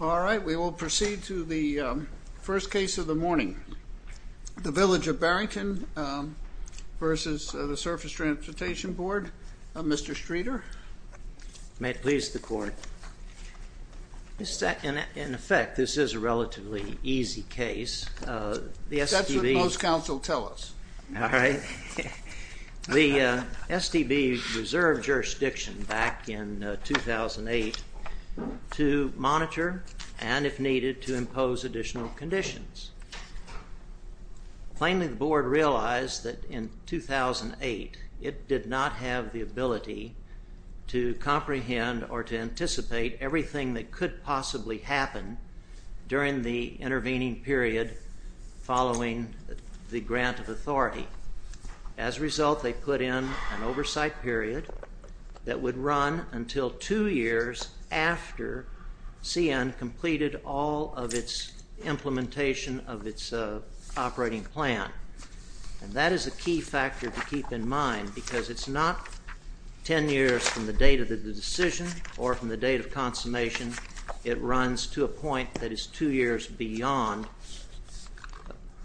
All right, we will proceed to the first case of the morning. The Village of Barrington v. the Surface Transportation Board. Mr. Streeter. May it please the court. In effect, this is a relatively easy case. That's what most and if needed to impose additional conditions. Plainly, the board realized that in 2008 it did not have the ability to comprehend or to anticipate everything that could possibly happen during the intervening period following the grant of authority. As a result, they put in an oversight period that would run until two years after CN completed all of its implementation of its operating plan. And that is a key factor to keep in mind because it's not 10 years from the date of the decision or from the date of consummation. It runs to a point that is two years beyond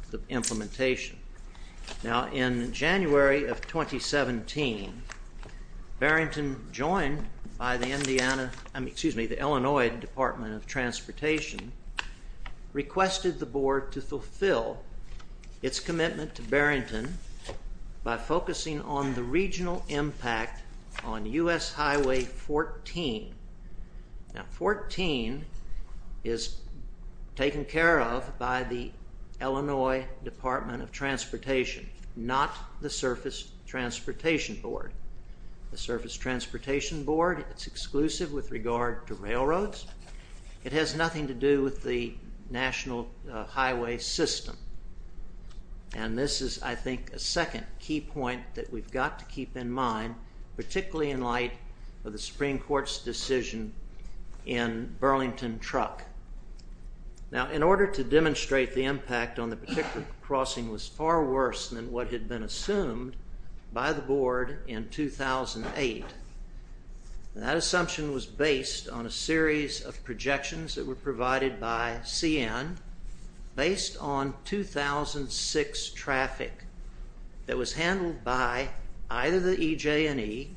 the implementation. Now, in January of 2017, Barrington, joined by the Illinois Department of Transportation, requested the board to fulfill its commitment to Barrington by focusing on the regional impact on US Highway 14. Now, 14 is taken care of by the Illinois Department of Transportation, not the Surface Transportation Board. The Surface Transportation Board, it's exclusive with regard to railroads. It has nothing to do with the national highway system. And this is, I think, a second key point that we've got to keep in mind, particularly in light of the Supreme Court's decision in Burlington Truck. Now, in order to demonstrate the fact that the crossing was far worse than what had been assumed by the board in 2008, that assumption was based on a series of projections that were provided by CN based on 2006 traffic that was handled by either the EJ&E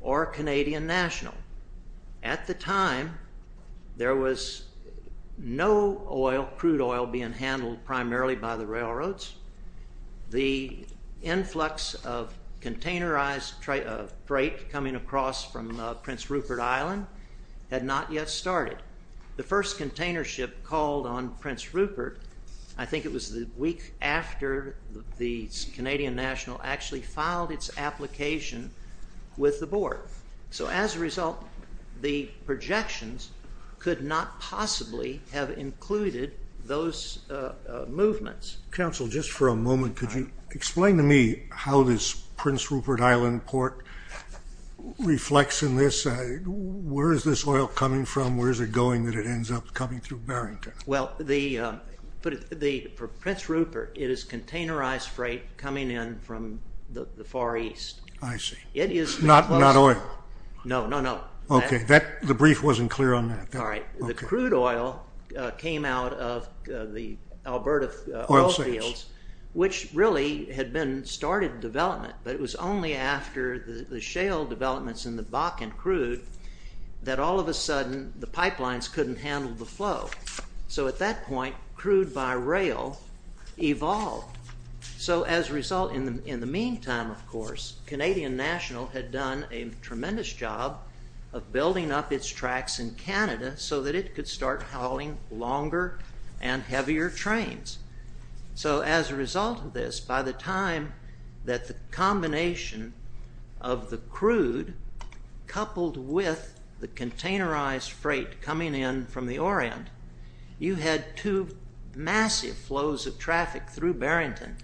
or Canadian National. At the time, there was no crude oil being handled primarily by the railroads. The influx of containerized freight coming across from Prince Rupert Island had not yet started. The first container ship called on Prince Rupert, I think it was the week after the Canadian National actually filed its application with the board. So as a result, the projections could not possibly have included those movements. Counsel, just for a moment, could you explain to me how this Prince Rupert Island port reflects in this? Where is this oil coming from? Where is it going that it ends up coming through Burlington? Well, for Prince Rupert, it is containerized freight coming in from the Not oil? No, no, no. Okay, the brief wasn't clear on that. All right. The crude oil came out of the Alberta oil fields, which really had been started development, but it was only after the shale developments in the Bakken crude that all of a sudden the pipelines couldn't handle the flow. So at that point, crude by rail evolved. So as a result, in the meantime, of course, Canadian National had done a tremendous job of building up its tracks in Canada so that it could start hauling longer and heavier trains. So as a result of this, by the time that the combination of the crude coupled with the containerized freight coming in from the Orient, you had two massive flows of traffic through Barrington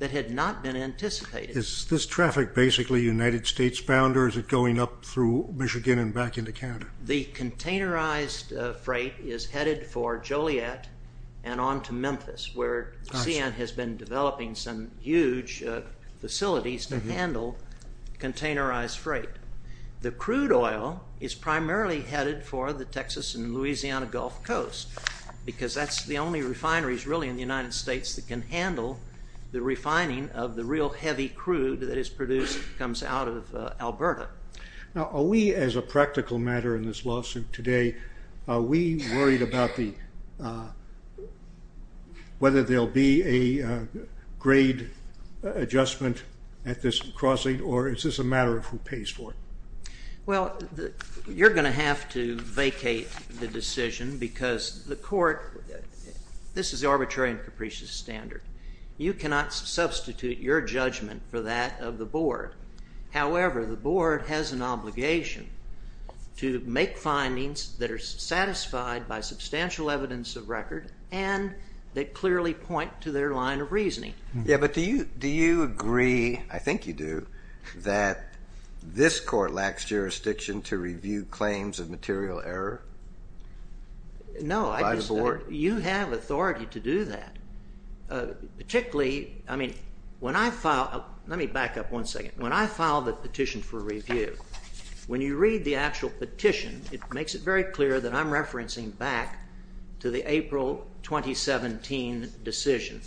that had not been anticipated. Is this traffic basically United States bound, or is it going up through Michigan and back into Canada? The containerized freight is headed for Joliet and on to Memphis, where CN has been developing some huge facilities to handle containerized freight. The crude oil is primarily headed for the Texas and Louisiana Gulf Coast, because that's the only refineries really in the United States that can handle the refining of the real heavy crude that is produced that comes out of Alberta. Now, are we, as a practical matter in this lawsuit today, are we worried about whether there will be a grade adjustment at this crossing, or is this a matter of who pays for it? Well, you're going to have to vacate the decision because the court, this is the arbitrary and capricious standard. You cannot substitute your judgment for that of the board. However, the board has an obligation to make findings that are satisfied by substantial evidence of record and that clearly point to their line of reasoning. Yeah, but do you agree, I think you do, that this court lacks jurisdiction to review claims of material error by the board? No. By the board. You have authority to do that. Particularly, I mean, when I file, let me back up one second. When I file the petition for review, when you read the actual petition, it makes it very clear that I'm referencing back to the April 2017 decision.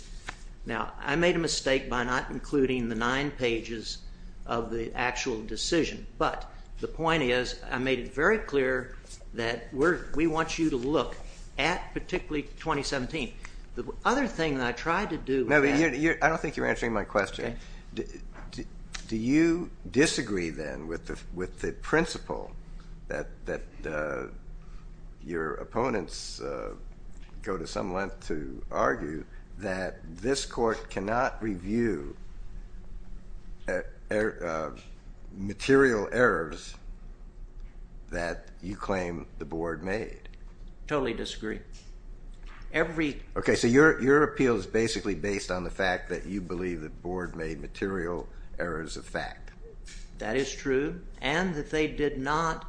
Now, I made a mistake by not including the nine pages of the actual decision, but the point is I made it very clear that we want you to look at particularly 2017. The other thing that I tried to do was ask. No, but I don't think you're answering my question. Okay. Do you disagree, then, with the principle that your opponents go to some argue that this court cannot review material errors that you claim the board made? Totally disagree. Okay, so your appeal is basically based on the fact that you believe the board made material errors of fact. That is true, and that they did not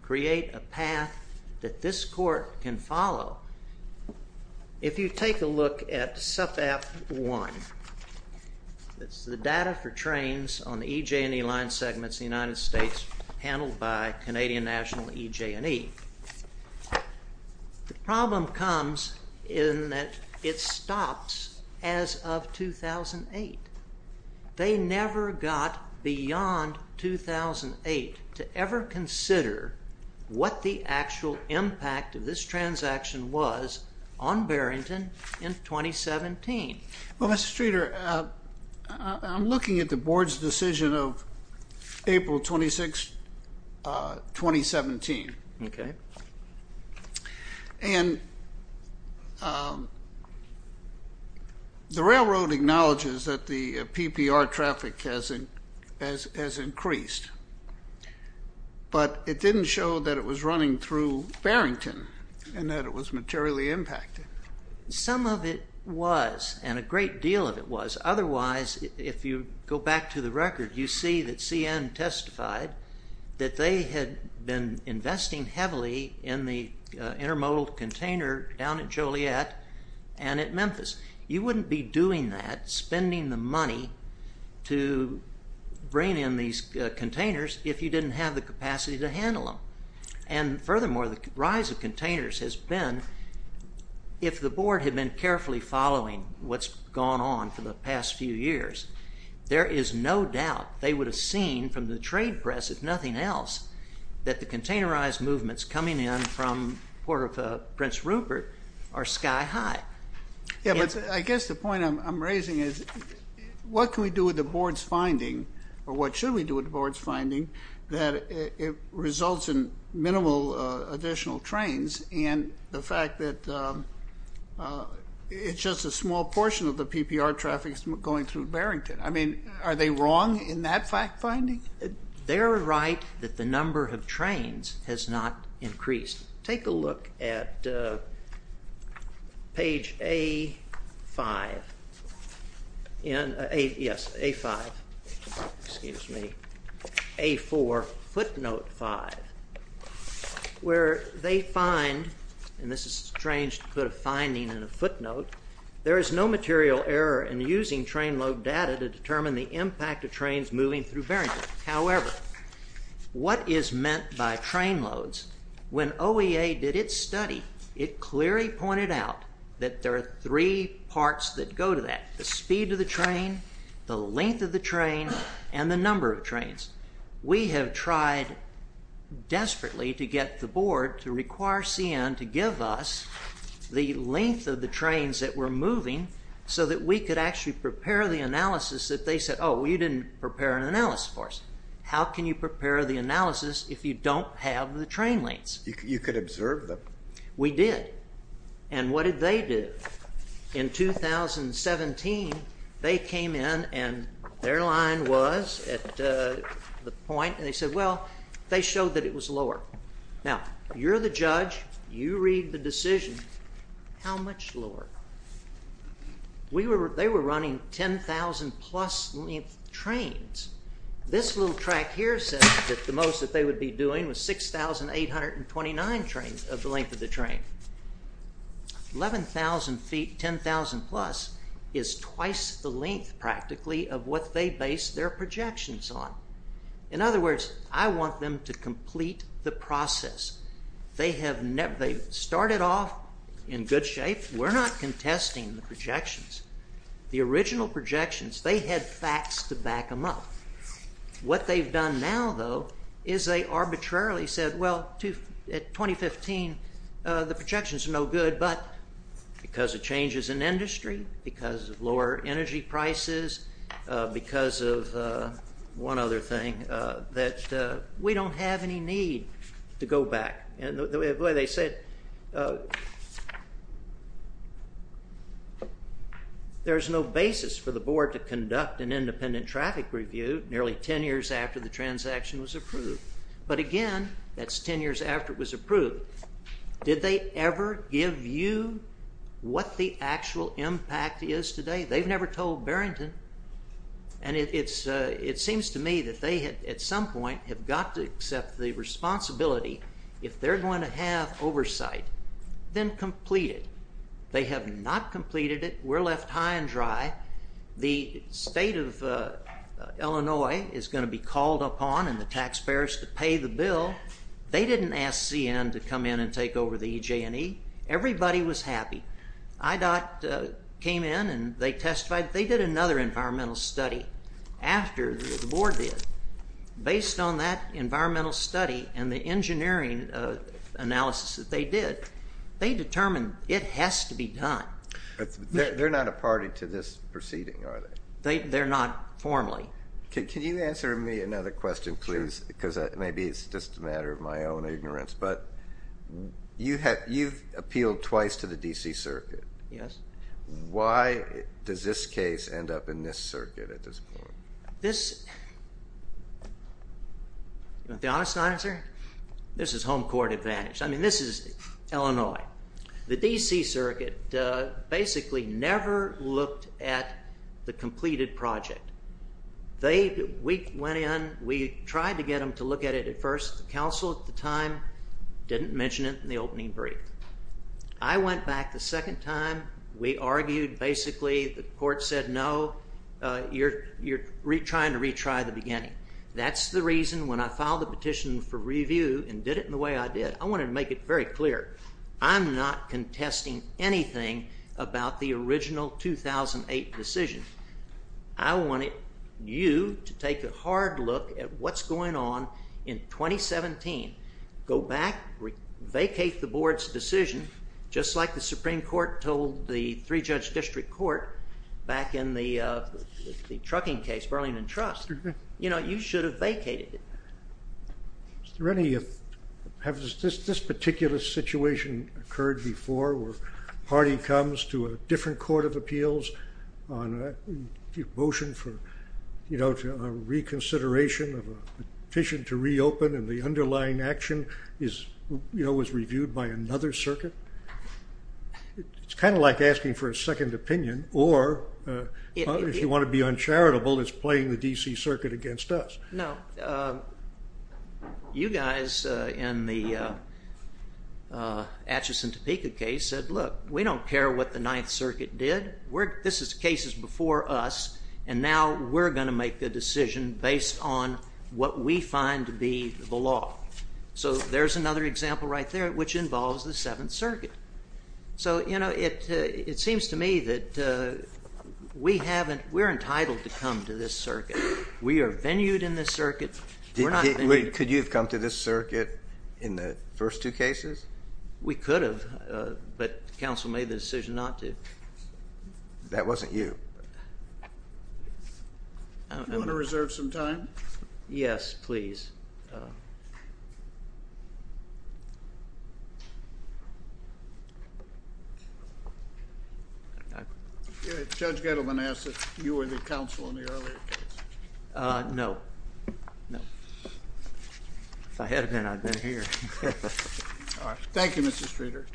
create a path that this court can follow If you take a look at SUPAP 1, it's the data for trains on the EJ&E line segments in the United States handled by Canadian National EJ&E. The problem comes in that it stops as of 2008. They never got beyond 2008 to ever consider what the actual impact of this transaction was on Barrington in 2017. Well, Mr. Streeter, I'm looking at the board's decision of April 26, 2017. Okay. And the railroad acknowledges that the PPR traffic has increased, but it didn't show that it was running through Barrington and that it was materially impacted. Some of it was, and a great deal of it was. Otherwise, if you go back to the record, you see that CN testified that they had been investing heavily in the intermodal container down at Joliet and at Memphis. You wouldn't be doing that, spending the money to bring in these containers if you didn't have the capacity to handle them. And furthermore, the rise of containers has been, if the board had been carefully following what's gone on for the past few years, there is no doubt they would have seen from the trade press, if nothing else, that the containerized movements coming in from Prince Rupert are sky high. Yeah, but I guess the point I'm raising is what can we do with the board's finding, or what should we do with the board's finding, that it results in minimal additional trains and the fact that it's just a small portion of the PPR traffic going through Barrington? I mean, are they wrong in that finding? They're right that the number of trains has not increased. Take a look at page A5, yes, A5, excuse me, A4, footnote 5, where they find, and this is strange to put a finding in a footnote, there is no material error in using train load data to determine the impact of trains moving through Barrington. However, what is meant by train loads, when OEA did its study, it clearly pointed out that there are three parts that go to that, the speed of the train, the length of the train, and the number of trains. We have tried desperately to get the board to require CN to give us the length of the trains that were moving so that we could actually prepare the analysis that they said, oh, you didn't prepare an analysis for us. How can you prepare the analysis if you don't have the train lengths? You could observe them. We did. And what did they do? In 2017, they came in and their line was at the point, and they said, well, they showed that it was lower. Now, you're the judge, you read the decision, how much lower? They were running 10,000 plus length trains. This little track here says that the most that they would be doing was 6,829 trains of the length of the train. 11,000 feet, 10,000 plus is twice the length practically of what they based their projections on. In other words, I want them to complete the process. They started off in good shape. We're not contesting the projections. The original projections, they had facts to back them up. What they've done now, though, is they arbitrarily said, well, at 2015, the projections are no good, but because of changes in industry, because of lower energy prices, because of one other thing, that we don't have any need to go back. They said there's no basis for the board to conduct an independent traffic review nearly 10 years after the transaction was approved. But again, that's 10 years after it was approved. Did they ever give you what the actual impact is today? They've never told Barrington. It seems to me that they, at some point, have got to accept the responsibility, if they're going to have oversight, then complete it. They have not completed it. We're left high and dry. The state of Illinois is going to be called upon, and the taxpayers to pay the bill. They didn't ask CN to come in and take over the EJ&E. Everybody was happy. IDOT came in and they testified. They did another environmental study after the board did. Based on that environmental study and the engineering analysis that they did, they determined it has to be done. They're not a party to this proceeding, are they? They're not formally. Can you answer me another question, please? Because maybe it's just a matter of my own ignorance. But you've appealed twice to the D.C. Circuit. Yes. Why does this case end up in this circuit at this point? This is home court advantage. I mean, this is Illinois. The D.C. Circuit basically never looked at the completed project. We tried to get them to look at it at first. The council at the time didn't mention it in the opening brief. I went back the second time. We argued. Basically, the court said, no, you're trying to retry the beginning. That's the reason when I filed the petition for review and did it in the way I did, I wanted to make it very clear. I'm not contesting anything about the original 2008 decision. I wanted you to take a hard look at what's going on in 2017. Go back, vacate the board's decision, just like the Supreme Court told the three-judge district court back in the trucking case, Burlington Trust. You should have vacated it. Has this particular situation occurred before where a party comes to a different court of appeals on a motion for reconsideration of a petition to It's kind of like asking for a second opinion, or if you want to be uncharitable, it's playing the D.C. Circuit against us. No. You guys in the Atchison-Topeka case said, look, we don't care what the Ninth Circuit did. This case is before us, and now we're going to make the decision based on what we find to be the law. There's another example right there, which involves the Seventh Circuit. It seems to me that we're entitled to come to this circuit. We are venued in this circuit. Could you have come to this circuit in the first two cases? We could have, but the council made the decision not to. That wasn't you. Do you want to reserve some time? Yes, please. Judge Gettleman asked if you were the counsel in the earlier case. No. If I had been, I'd have been here. Thank you, Mr. Streeter.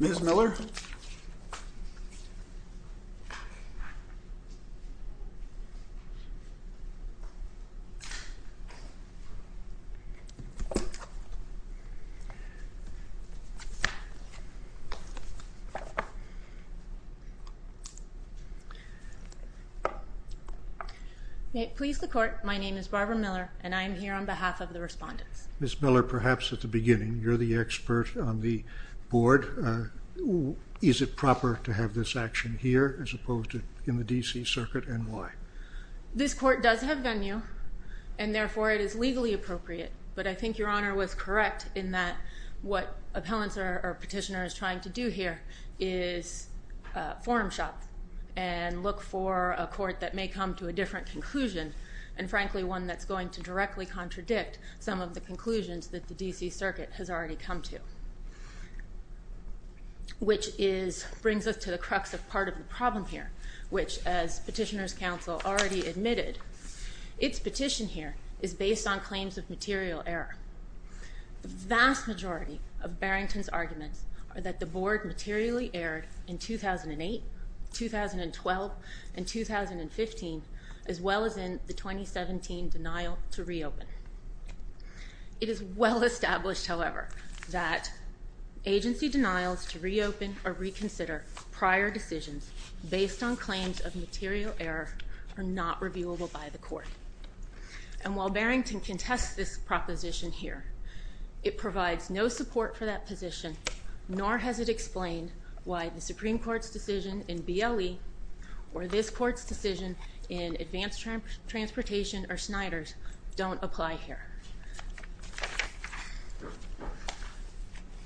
Ms. Miller? May it please the Court, my name is Barbara Miller, and I am here on behalf of the respondents. Ms. Miller, perhaps at the beginning, you're the expert on the board. Is it proper to have this action here as opposed to in the D.C. Circuit, and why? This court does have venue, and therefore it is legally appropriate, but I think Your Honor was correct in that what appellants or petitioners trying to do here is forum shop and look for a court that may come to a different conclusion, and frankly one that's going to directly contradict some of the conclusions that the D.C. Circuit has already come to, which brings us to the crux of part of the problem here, which as petitioners' counsel already admitted, its petition here is based on claims of material error. The vast majority of Barrington's arguments are that the board materially erred in 2008, 2012, and 2015, as well as in the 2017 denial to reopen. It is well established, however, that agency denials to reopen or reconsider prior decisions based on claims of material error are not reviewable by the court, and while Barrington contests this proposition here, it provides no support for that position, nor has it explained why the Supreme Court's decision in BLE or this court's decision in advanced transportation or Snyder's don't apply here.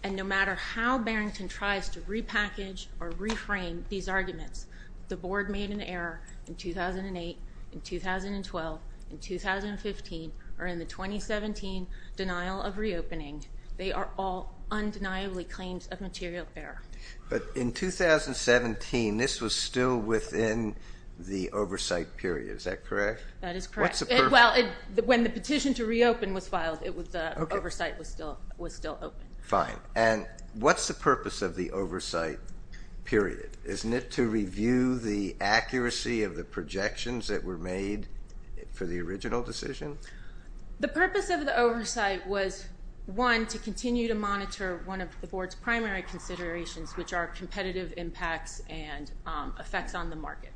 And no matter how Barrington tries to repackage or reframe these arguments, the board made an error in 2008, in 2012, in 2015, or in the 2017 denial of renewal, undeniably claims of material error. But in 2017, this was still within the oversight period. Is that correct? That is correct. What's the purpose? Well, when the petition to reopen was filed, the oversight was still open. Fine. And what's the purpose of the oversight period? Isn't it to review the accuracy of the projections that were made for the original decision? The purpose of the oversight was, one, to continue to monitor one of the board's primary considerations, which are competitive impacts and effects on the market.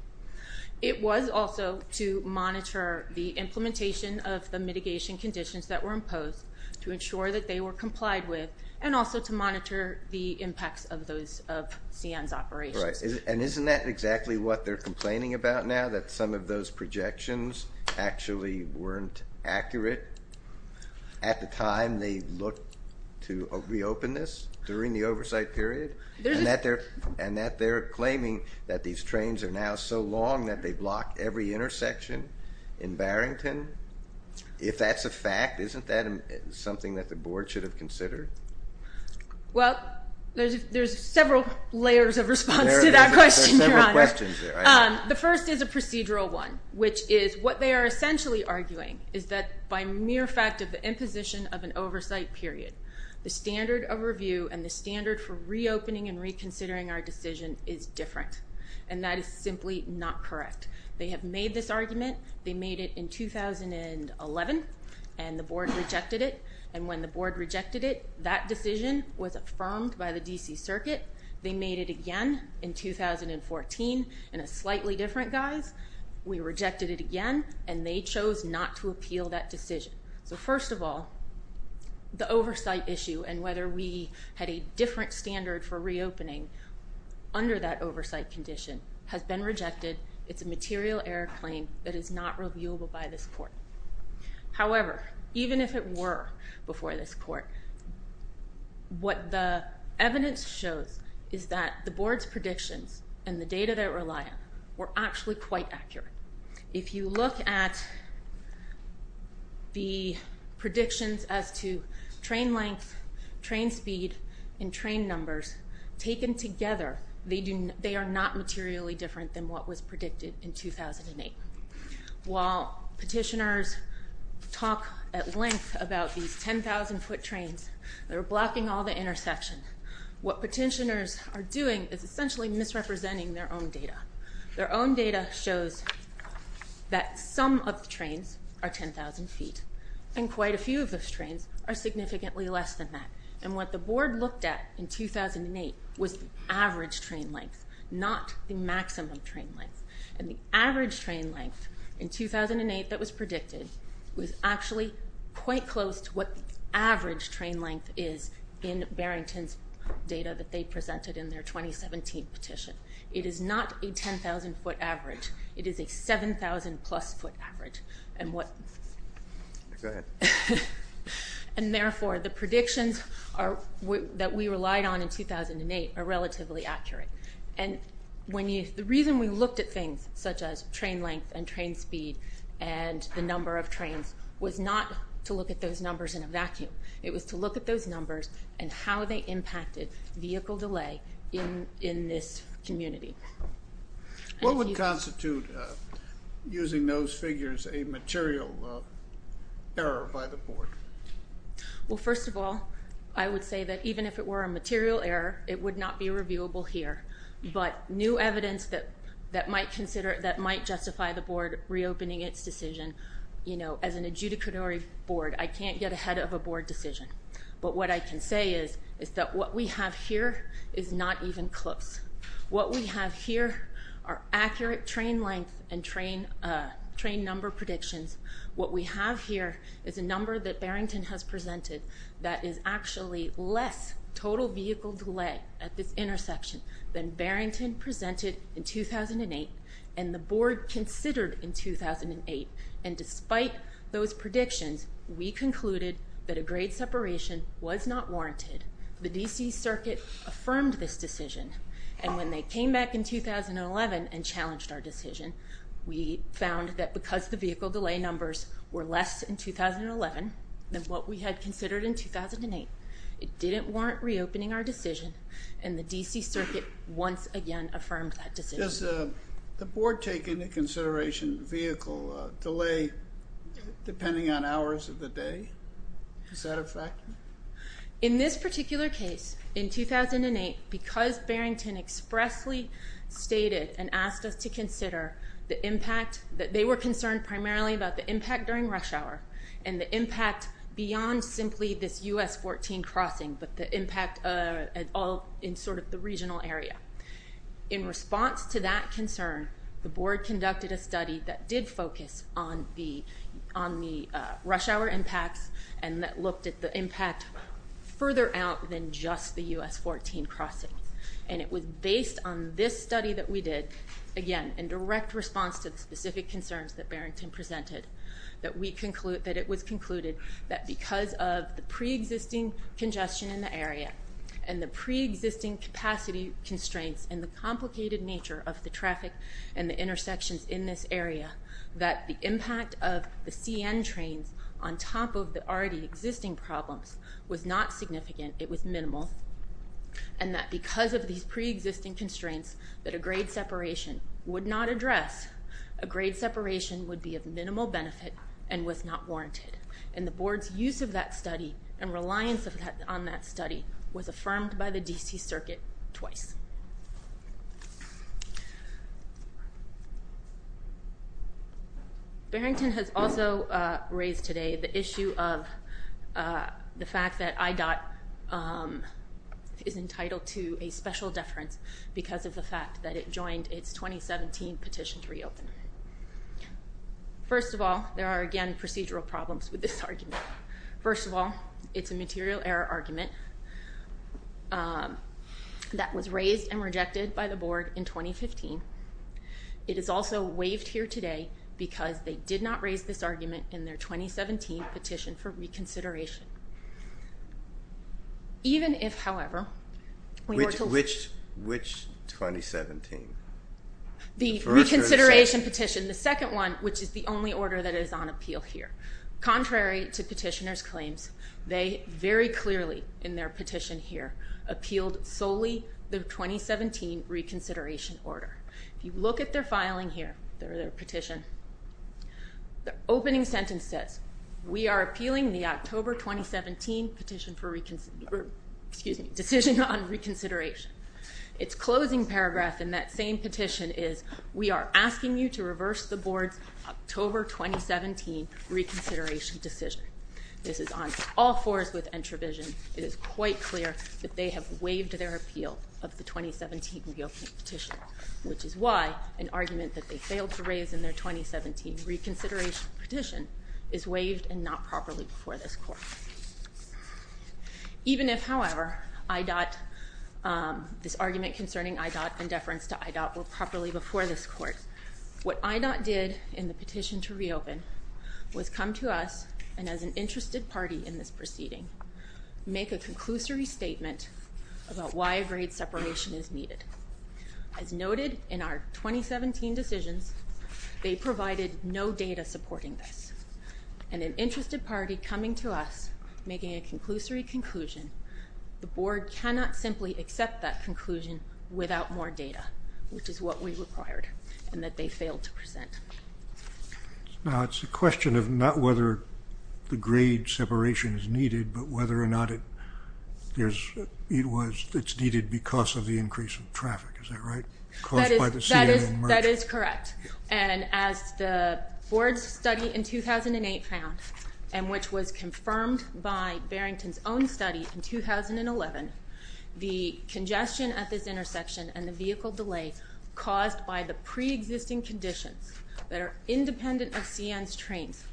It was also to monitor the implementation of the mitigation conditions that were imposed, to ensure that they were complied with, and also to monitor the impacts of CN's operations. Right. And isn't that exactly what they're complaining about now, that some of those projections actually weren't accurate at the time they looked to reopen this, during the oversight period, and that they're claiming that these trains are now so long that they block every intersection in Barrington? If that's a fact, isn't that something that the board should have considered? Well, there's several layers of response to that question, Your Honor. There are several questions there. The first is a procedural one, which is what they are essentially arguing is that by mere fact of the imposition of an oversight period, the standard of review and the standard for reopening and reconsidering our decision is different, and that is simply not correct. They have made this argument. They made it in 2011, and the board rejected it. And when the board rejected it, that decision was affirmed by the D.C. slightly different guys. We rejected it again, and they chose not to appeal that decision. So first of all, the oversight issue and whether we had a different standard for reopening under that oversight condition has been rejected. It's a material error claim that is not reviewable by this court. However, even if it were before this court, what the evidence shows is that the were actually quite accurate. If you look at the predictions as to train length, train speed, and train numbers taken together, they are not materially different than what was predicted in 2008. While petitioners talk at length about these 10,000-foot trains that are blocking all the intersection, what petitioners are doing is essentially misrepresenting their own data. Their own data shows that some of the trains are 10,000 feet, and quite a few of those trains are significantly less than that. And what the board looked at in 2008 was the average train length, not the maximum train length. And the average train length in 2008 that was predicted was actually quite close to what the average train length is in Barrington's data that they presented in their 2017 petition. It is not a 10,000-foot average. It is a 7,000-plus foot average. And therefore, the predictions that we relied on in 2008 are relatively accurate. And the reason we looked at things such as train length and train speed and the number of trains was not to look at those numbers in a vacuum. It was to look at those numbers and how they impacted vehicle delay in this community. What would constitute using those figures a material error by the board? Well, first of all, I would say that even if it were a material error, it would not be reviewable here. But new evidence that might justify the board reopening its decision, you know, as an adjudicatory board, I can't get ahead of a board decision. But what I can say is that what we have here is not even close. What we have here are accurate train length and train number predictions. What we have here is a number that Barrington has presented that is actually less total vehicle delay at this intersection than Barrington presented in 2008 and the board considered in 2008. And despite those predictions, we concluded that a grade separation was not warranted. The D.C. Circuit affirmed this decision. And when they came back in 2011 and challenged our decision, we found that because the vehicle delay numbers were less in 2011 than what we had considered in 2008, it didn't warrant reopening our decision, and the D.C. Circuit once again affirmed that decision. Does the board take into consideration vehicle delay depending on hours of the day? Is that a factor? In this particular case, in 2008, because Barrington expressly stated and asked us to consider the impact, they were concerned primarily about the impact during rush hour and the impact beyond simply this U.S. 14 crossing, but the impact all in sort of the regional area. In response to that concern, the board conducted a study that did focus on the rush hour impacts and that looked at the impact further out than just the U.S. 14 crossing. And it was based on this study that we did, again, in direct response to the specific concerns that Barrington presented, that it was concluded that because of the preexisting congestion in the area and the preexisting capacity constraints and the complicated nature of the traffic and the intersections in this area, that the impact of the CN trains on top of the already existing problems was not significant, it was minimal, and that because of these preexisting constraints that a grade separation would not address, a grade separation would be of minimal benefit and was not warranted. And the board's use of that study and reliance on that study was affirmed by the D.C. Circuit twice. Barrington has also raised today the issue of the fact that IDOT is entitled to a special deference because of the fact that it joined its 2017 petition to reopen. First of all, there are, again, procedural problems with this argument. First of all, it's a material error argument that was raised and rejected by the board in 2015. It is also waived here today because they did not raise this argument in their 2017 petition for reconsideration. Even if, however, we were told... Which 2017? The reconsideration petition, the second one, which is the only order that is on appeal here. Contrary to petitioners' claims, they very clearly in their petition here appealed solely the 2017 reconsideration order. If you look at their filing here, their petition, the opening sentence says, we are appealing the October 2017 petition for reconsider... Excuse me, decision on reconsideration. Its closing paragraph in that same petition is, we are asking you to reverse the board's October 2017 reconsideration decision. This is on all fours with Entravision. It is quite clear that they have waived their appeal of the 2017 reopening petition, which is why an argument that they failed to raise in their 2017 reconsideration petition is waived and not properly before this court. Even if, however, IDOT... This argument concerning IDOT and deference to IDOT were properly before this court, what IDOT did in the petition to reopen was come to us and, as an interested party in this proceeding, make a conclusory statement about why a grade separation is needed. As noted in our 2017 decisions, they provided no data supporting this. And an interested party coming to us, making a conclusory conclusion, the board cannot simply accept that conclusion without more data, which is what we required, and that they failed to present. Now, it's a question of not whether the grade separation is needed, but whether or not it's needed because of the increase in traffic. Is that right? Caused by the... That is correct. And as the board's study in 2008 found, and which was confirmed by Barrington's own study in 2011, the congestion at this intersection and the vehicle delay caused by the pre-existing conditions that are independent of CN's trains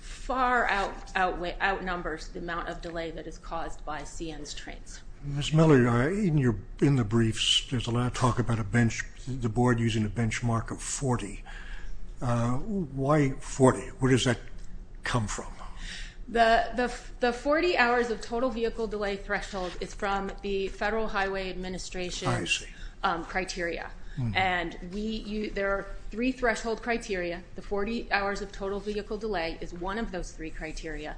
far outnumbers the amount of delay that is caused by CN's trains. Ms. Miller, in the briefs, I want to talk about the board using a benchmark of 40. Why 40? Where does that come from? The 40 hours of total vehicle delay threshold is from the Federal Highway Administration criteria. And there are three threshold criteria. The 40 hours of total vehicle delay is one of those three criteria.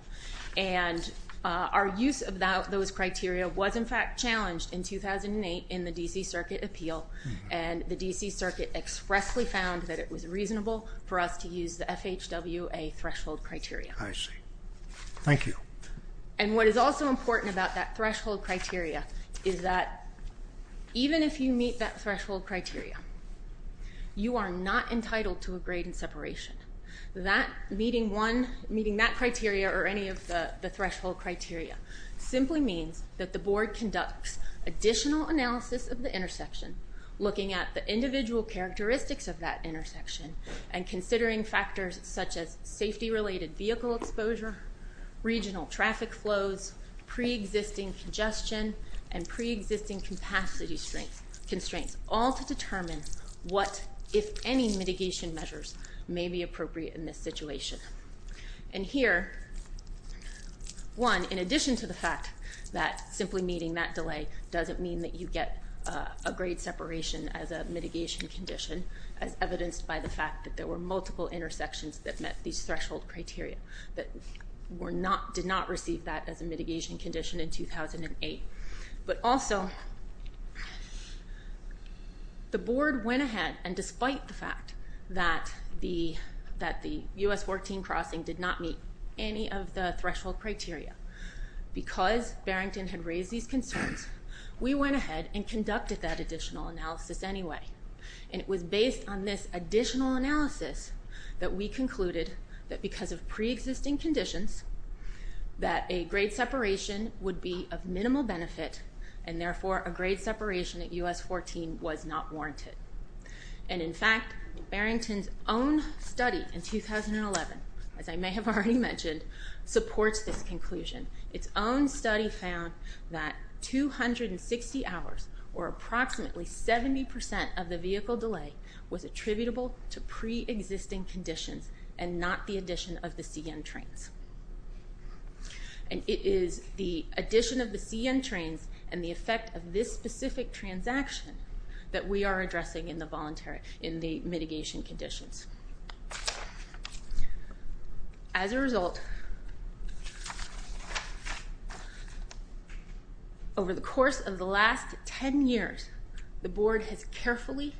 And our use of those criteria was, in fact, challenged in 2008 in the D.C. Circuit appeal, and the D.C. Circuit expressly found that it was reasonable for us to use the FHWA threshold criteria. I see. Thank you. And what is also important about that threshold criteria is that even if you meet that threshold criteria, you are not entitled to a grade separation. Meeting that criteria or any of the threshold criteria simply means that the board conducts additional analysis of the intersection, looking at the individual characteristics of that intersection, and considering factors such as safety-related vehicle exposure, regional traffic flows, pre-existing congestion, and pre-existing capacity constraints, all to determine what, if any, mitigation measures may be appropriate in this situation. And here, one, in addition to the fact that simply meeting that delay doesn't mean that you get a grade separation as a mitigation condition, as evidenced by the fact that there were multiple intersections that met these threshold criteria, that did not receive that as a mitigation condition in 2008. But also, the board went ahead, and despite the fact that the U.S. 14 crossing did not meet any of the threshold criteria, because Barrington had raised these concerns, we went ahead and conducted that additional analysis anyway. And it was based on this additional analysis that we concluded that because of pre-existing conditions, that a grade separation would be of minimal benefit, and therefore a grade separation at U.S. 14 was not warranted. And in fact, Barrington's own study in 2011, as I may have already mentioned, supports this conclusion. Its own study found that 260 hours, or approximately 70% of the vehicle delay, was attributable to pre-existing conditions, and not the addition of the CN trains. And it is the addition of the CN trains and the effect of this specific transaction that we are addressing in the mitigation conditions. As a result, over the course of the last 10 years, the board has carefully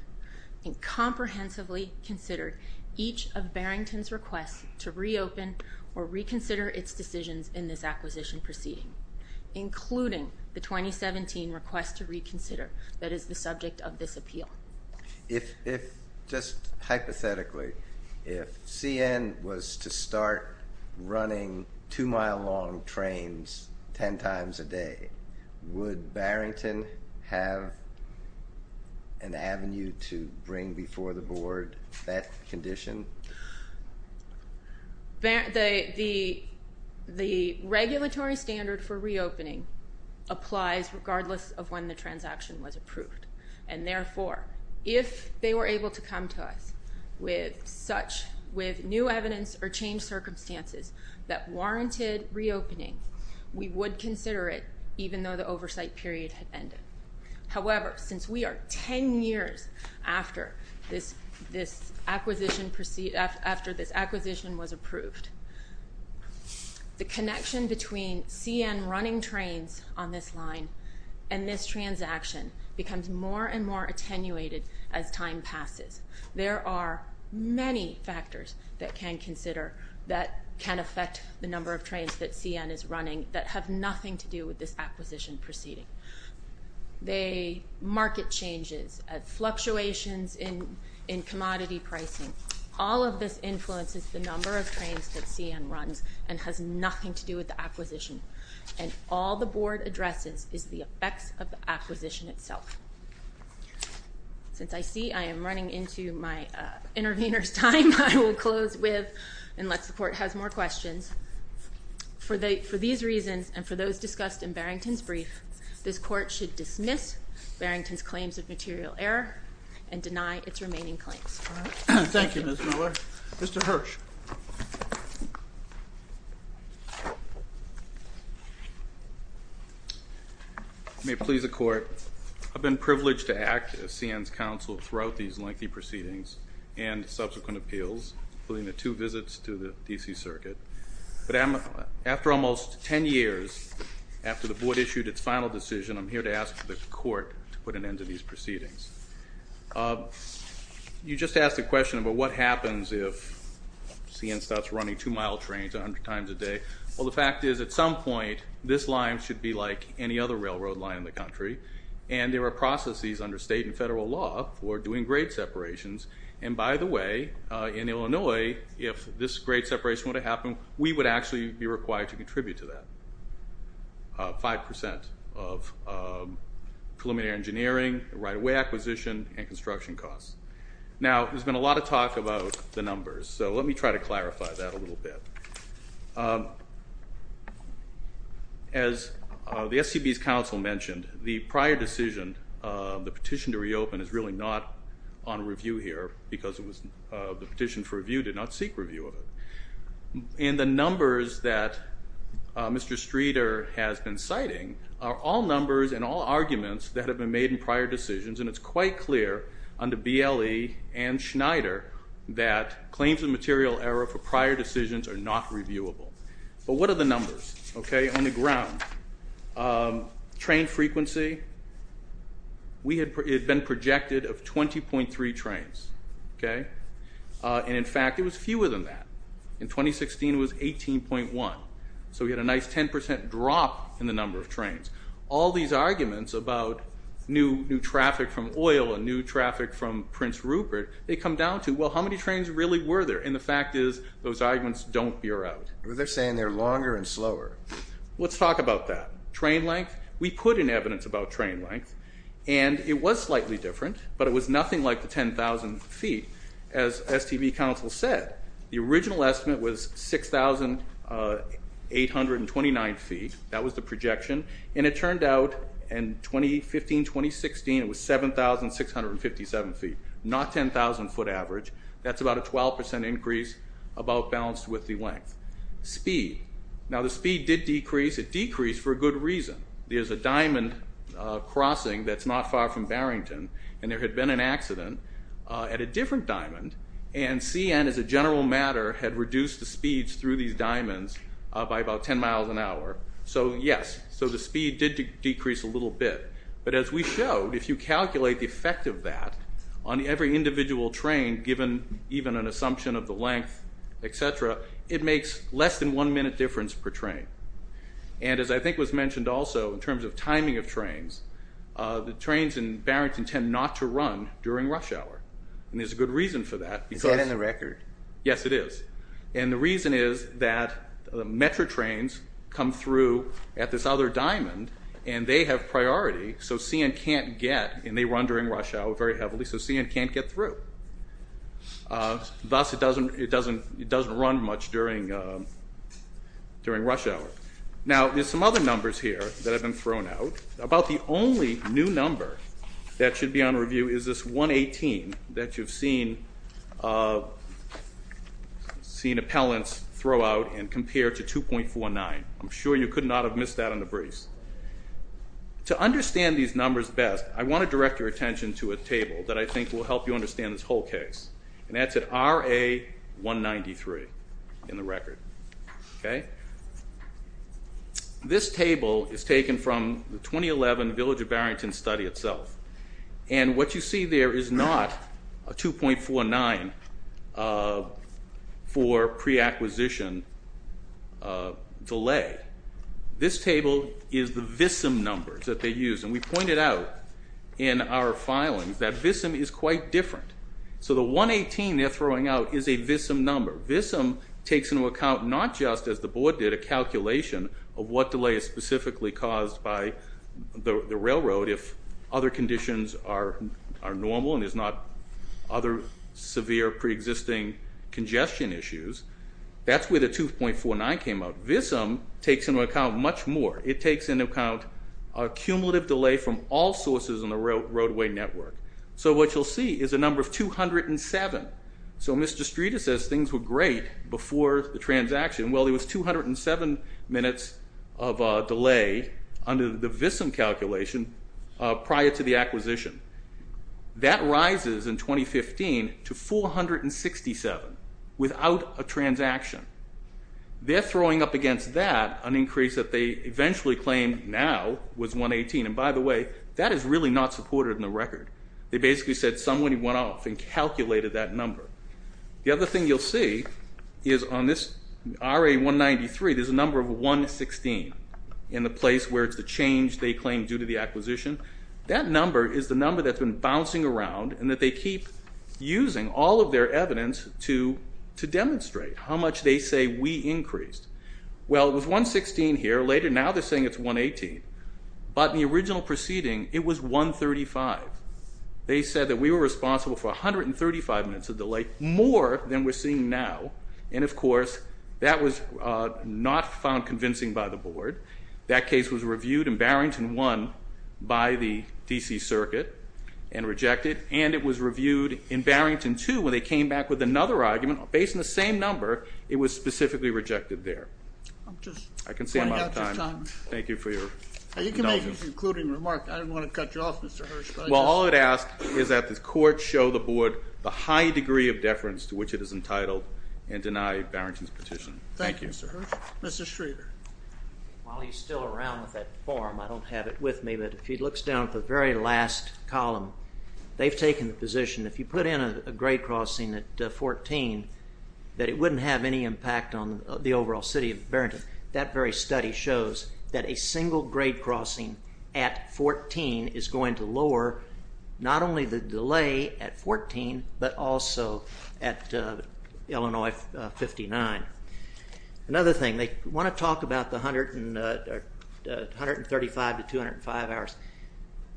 and comprehensively considered each of Barrington's requests to reopen or reconsider its decisions in this acquisition proceeding, including the 2017 request to reconsider, that is the subject of this appeal. If, just hypothetically, if CN was to start running 2-mile-long trains 10 times a day, would Barrington have an avenue to bring before the board that condition? The regulatory standard for reopening applies regardless of when the transaction was approved. And therefore, if they were able to come to us with new evidence or changed circumstances that warranted reopening, we would consider it, even though the oversight period had ended. However, since we are 10 years after this acquisition was approved, the connection between CN running trains on this line and this transaction becomes more and more attenuated as time passes. There are many factors that can consider that can affect the number of trains that CN is running that have nothing to do with this acquisition proceeding. The market changes, fluctuations in commodity pricing, all of this influences the number of trains that CN runs and has nothing to do with the acquisition. And all the board addresses is the effects of the acquisition itself. Since I see I am running into my intervener's time, I will close with, unless the court has more questions, for these reasons and for those discussed in Barrington's brief, this court should dismiss Barrington's claims of material error and deny its remaining claims. Thank you, Ms. Miller. Mr. Hirsch. I may please the court. I've been privileged to act as CN's counsel throughout these lengthy proceedings and subsequent appeals, including the two visits to the D.C. Circuit. But after almost 10 years, after the board issued its final decision, I'm here to ask the court to put an end to these proceedings. You just asked a question about what happens if CN starts running two-mile trains 100 times a day. Well, the fact is, at some point, this line should be like any other railroad line in the country, and there are processes under state and federal law for doing grade separations. And by the way, in Illinois, if this grade separation were to happen, we would actually be required to contribute to that. 5% of preliminary engineering, right-of-way acquisition, and construction costs. Now, there's been a lot of talk about the numbers, so let me try to clarify that a little bit. As the SCB's counsel mentioned, the prior decision, the petition to reopen, is really not on review here because the petition for review did not seek review of it. And the numbers that Mr. Streeter has been citing are all numbers and all arguments that have been made in prior decisions, and it's quite clear under BLE and Schneider that claims of material error for prior decisions are not reviewable. But what are the numbers, OK, on the ground? Train frequency? It had been projected of 20.3 trains, OK? And in fact, it was fewer than that. In 2016, it was 18.1. So we had a nice 10% drop in the number of trains. All these arguments about new traffic from oil and new traffic from Prince Rupert, they come down to, well, how many trains really were there? And the fact is, those arguments don't bear out. But they're saying they're longer and slower. Let's talk about that. Train length? We put in evidence about train length, and it was slightly different, but it was nothing like the 10,000 feet. As STV Council said, the original estimate was 6,829 feet. That was the projection. And it turned out in 2015, 2016, it was 7,657 feet, not 10,000 foot average. That's about a 12% increase, about balanced with the length. Speed? Now, the speed did decrease. It decreased for a good reason. There's a diamond crossing that's not far from Barrington, and there had been an accident at a different diamond, and CN, as a general matter, had reduced the speeds through these diamonds by about 10 miles an hour. So, yes, the speed did decrease a little bit. But as we showed, if you calculate the effect of that on every individual train, given even an assumption of the length, etc., it makes less than one minute difference per train. And as I think was mentioned also, in terms of timing of trains, the trains in Barrington tend not to run during rush hour. And there's a good reason for that. Is that in the record? Yes, it is. And the reason is that the Metro trains come through at this other diamond, and they have priority, so CN can't get, and they run during rush hour very heavily, so CN can't get through. Thus, it doesn't run much during rush hour. Now, there's some other numbers here that have been thrown out. About the only new number that should be on review is this 118 that you've seen appellants throw out and compare to 2.49. I'm sure you could not have missed that on the briefs. To understand these numbers best, I want to direct your attention to a table that I think will help you understand this whole case. And that's at RA 193 in the record. This table is taken from the 2011 Village of Barrington study itself. And what you see there is not a 2.49 for pre-acquisition delay. This table is the VISM numbers that they use. And we pointed out in our filings that VISM is quite different. So the 118 they're throwing out is a VISM number. VISM takes into account not just, as the board did, a calculation of what delay is specifically caused by the railroad if other conditions are normal and there's not other severe pre-existing congestion issues. That's where the 2.49 came out. VISM takes into account much more. It takes into account a cumulative delay from all sources in the roadway network. So what you'll see is a number of 207. So Mr. Streeter says things were great before the transaction. Well, there was 207 minutes of delay under the VISM calculation prior to the acquisition. That rises in 2015 to 467 without a transaction. They're throwing up against that an increase that they eventually claim now was 118. And by the way, that is really not supported in the record. They basically said somebody went off and calculated that number. The other thing you'll see is on this RA193, there's a number of 116 in the place where it's the change they claim due to the acquisition. That number is the number that's been bouncing around and that they keep using all of their evidence to demonstrate how much they say we increased. Well, it was 116 here. Later now they're saying it's 118. But in the original proceeding, it was 135. They said that we were responsible for 135 minutes of delay, more than we're seeing now. And of course, that was not found convincing by the board. That case was reviewed in Barrington I by the D.C. Circuit and rejected, and it was reviewed in Barrington II when they came back with another argument based on the same number. It was specifically rejected there. I can see I'm out of time. Thank you for your indulgence. You can make an concluding remark. I didn't want to cut you off, Mr. Hirsch, but I just... Well, all I'd ask is that the court show the board the high degree of deference to which it is entitled and deny Barrington's petition. Thank you, Mr. Hirsch. Mr. Schrader. While he's still around with that form, I don't have it with me, but if he looks down at the very last column, they've taken the position if you put in a grade crossing at 14 that it wouldn't have any impact on the overall city of Barrington. That very study shows that a single grade crossing at 14 is going to lower not only the delay at 14, but also at Illinois 59. Another thing, they want to talk about the 135 to 205 hours.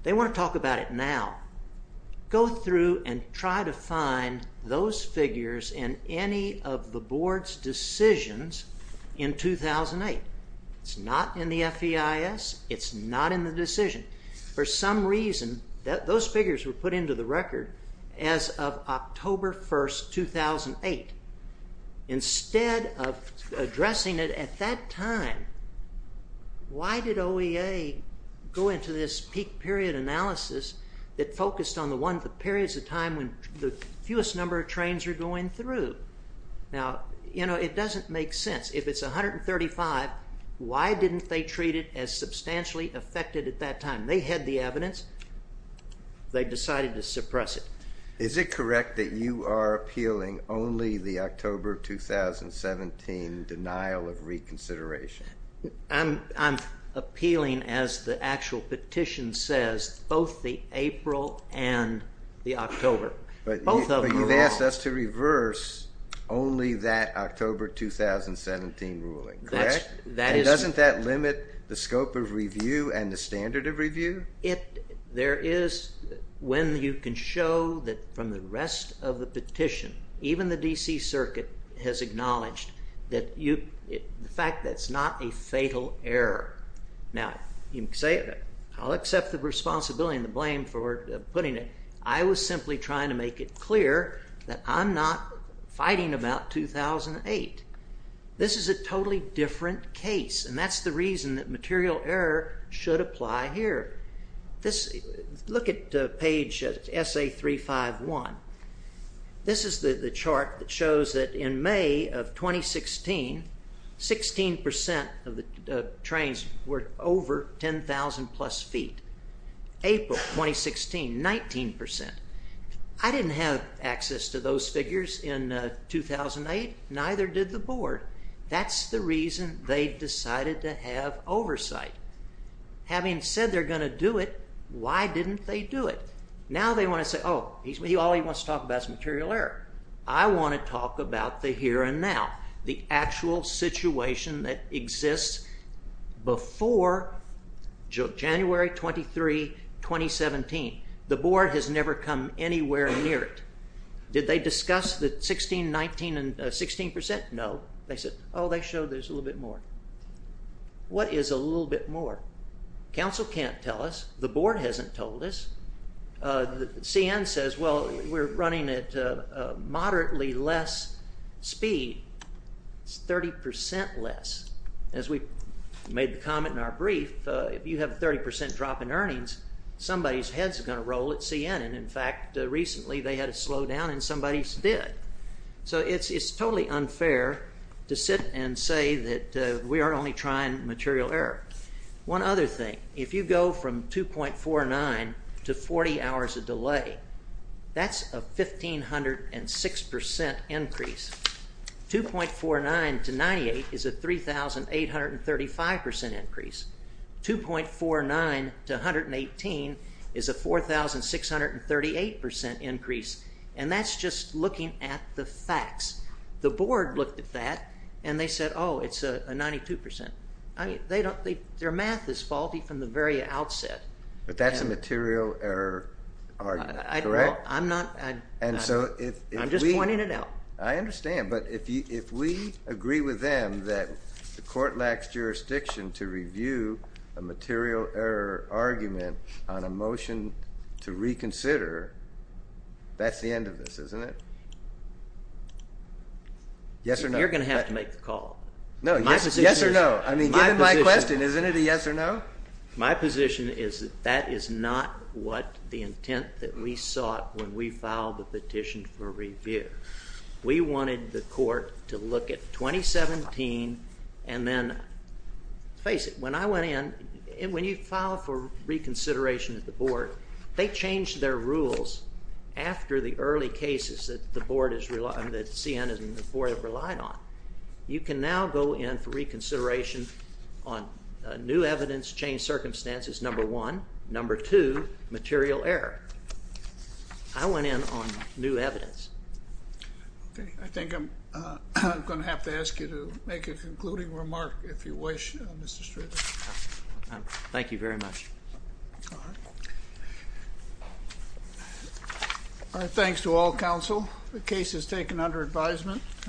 They want to talk about it now. Go through and try to find those figures in any of the board's decisions in 2008. It's not in the FEIS. It's not in the decision. For some reason, those figures were put into the record as of October 1, 2008. Instead of addressing it at that time, why did OEA go into this peak period analysis that focused on the periods of time when the fewest number of trains were going through? Now, it doesn't make sense. If it's 135, why didn't they treat it as substantially affected at that time? They had the evidence. They decided to suppress it. Is it correct that you are appealing only the October 2017 denial of reconsideration? I'm appealing, as the actual petition says, both the April and the October. But you've asked us to reverse only that October 2017 ruling, correct? Doesn't that limit the scope of review and the standard of review? There is, when you can show that from the rest of the petition, even the D.C. Circuit has acknowledged the fact that it's not a fatal error. Now, I'll accept the responsibility and the blame for putting it. I was simply trying to make it clear that I'm not fighting about 2008. This is a totally different case, and that's the reason that material error should apply here. Look at page SA351. This is the chart that shows that in May of 2016, 16% of the trains were over 10,000 plus feet. April 2016, 19%. I didn't have access to those figures in 2008, neither did the board. That's the reason they decided to have oversight. Having said they're going to do it, why didn't they do it? Now they want to say, oh, all he wants to talk about is material error. I want to talk about the here and now, the actual situation that exists before January 23, 2017. The board has never come anywhere near it. Did they discuss the 16%, no. They said, oh, they showed there's a little bit more. What is a little bit more? Council can't tell us. The board hasn't told us. CN says, well, we're running at moderately less speed. It's 30% less. As we made the comment in our brief, if you have a 30% drop in earnings, somebody's head's going to roll at CN. In fact, recently they had a slowdown and somebody's did. So it's totally unfair to sit and say that we are only trying material error. One other thing, if you go from 2.49 to 40 hours of delay, that's a 1,506% increase. 2.49 to 98 is a 3,835% increase. 2.49 to 118 is a 4,638% increase. And that's just looking at the facts. The board looked at that and they said, oh, it's a 92%. Their math is faulty from the very outset. But that's a material error argument, correct? I'm just pointing it out. I understand. But if we agree with them that the court lacks jurisdiction to review a material error argument on a motion to reconsider, that's the end of this, isn't it? Yes or no? You're going to have to make the call. Yes or no? I mean, given my question, isn't it a yes or no? My position is that that is not what the intent that we filed the petition for review. We wanted the court to look at 2017 and then face it. When I went in, when you file for reconsideration at the board, they changed their rules after the early cases that the board has relied on, that CN and the board have relied on. You can now go in for reconsideration on new evidence, changed circumstances, number one. Number two, material error. I went in on new evidence. Okay. I think I'm going to have to ask you to make a concluding remark, if you wish, Mr. Strickland. Thank you very much. All right. All right. Thanks to all counsel. The case is taken under advisement.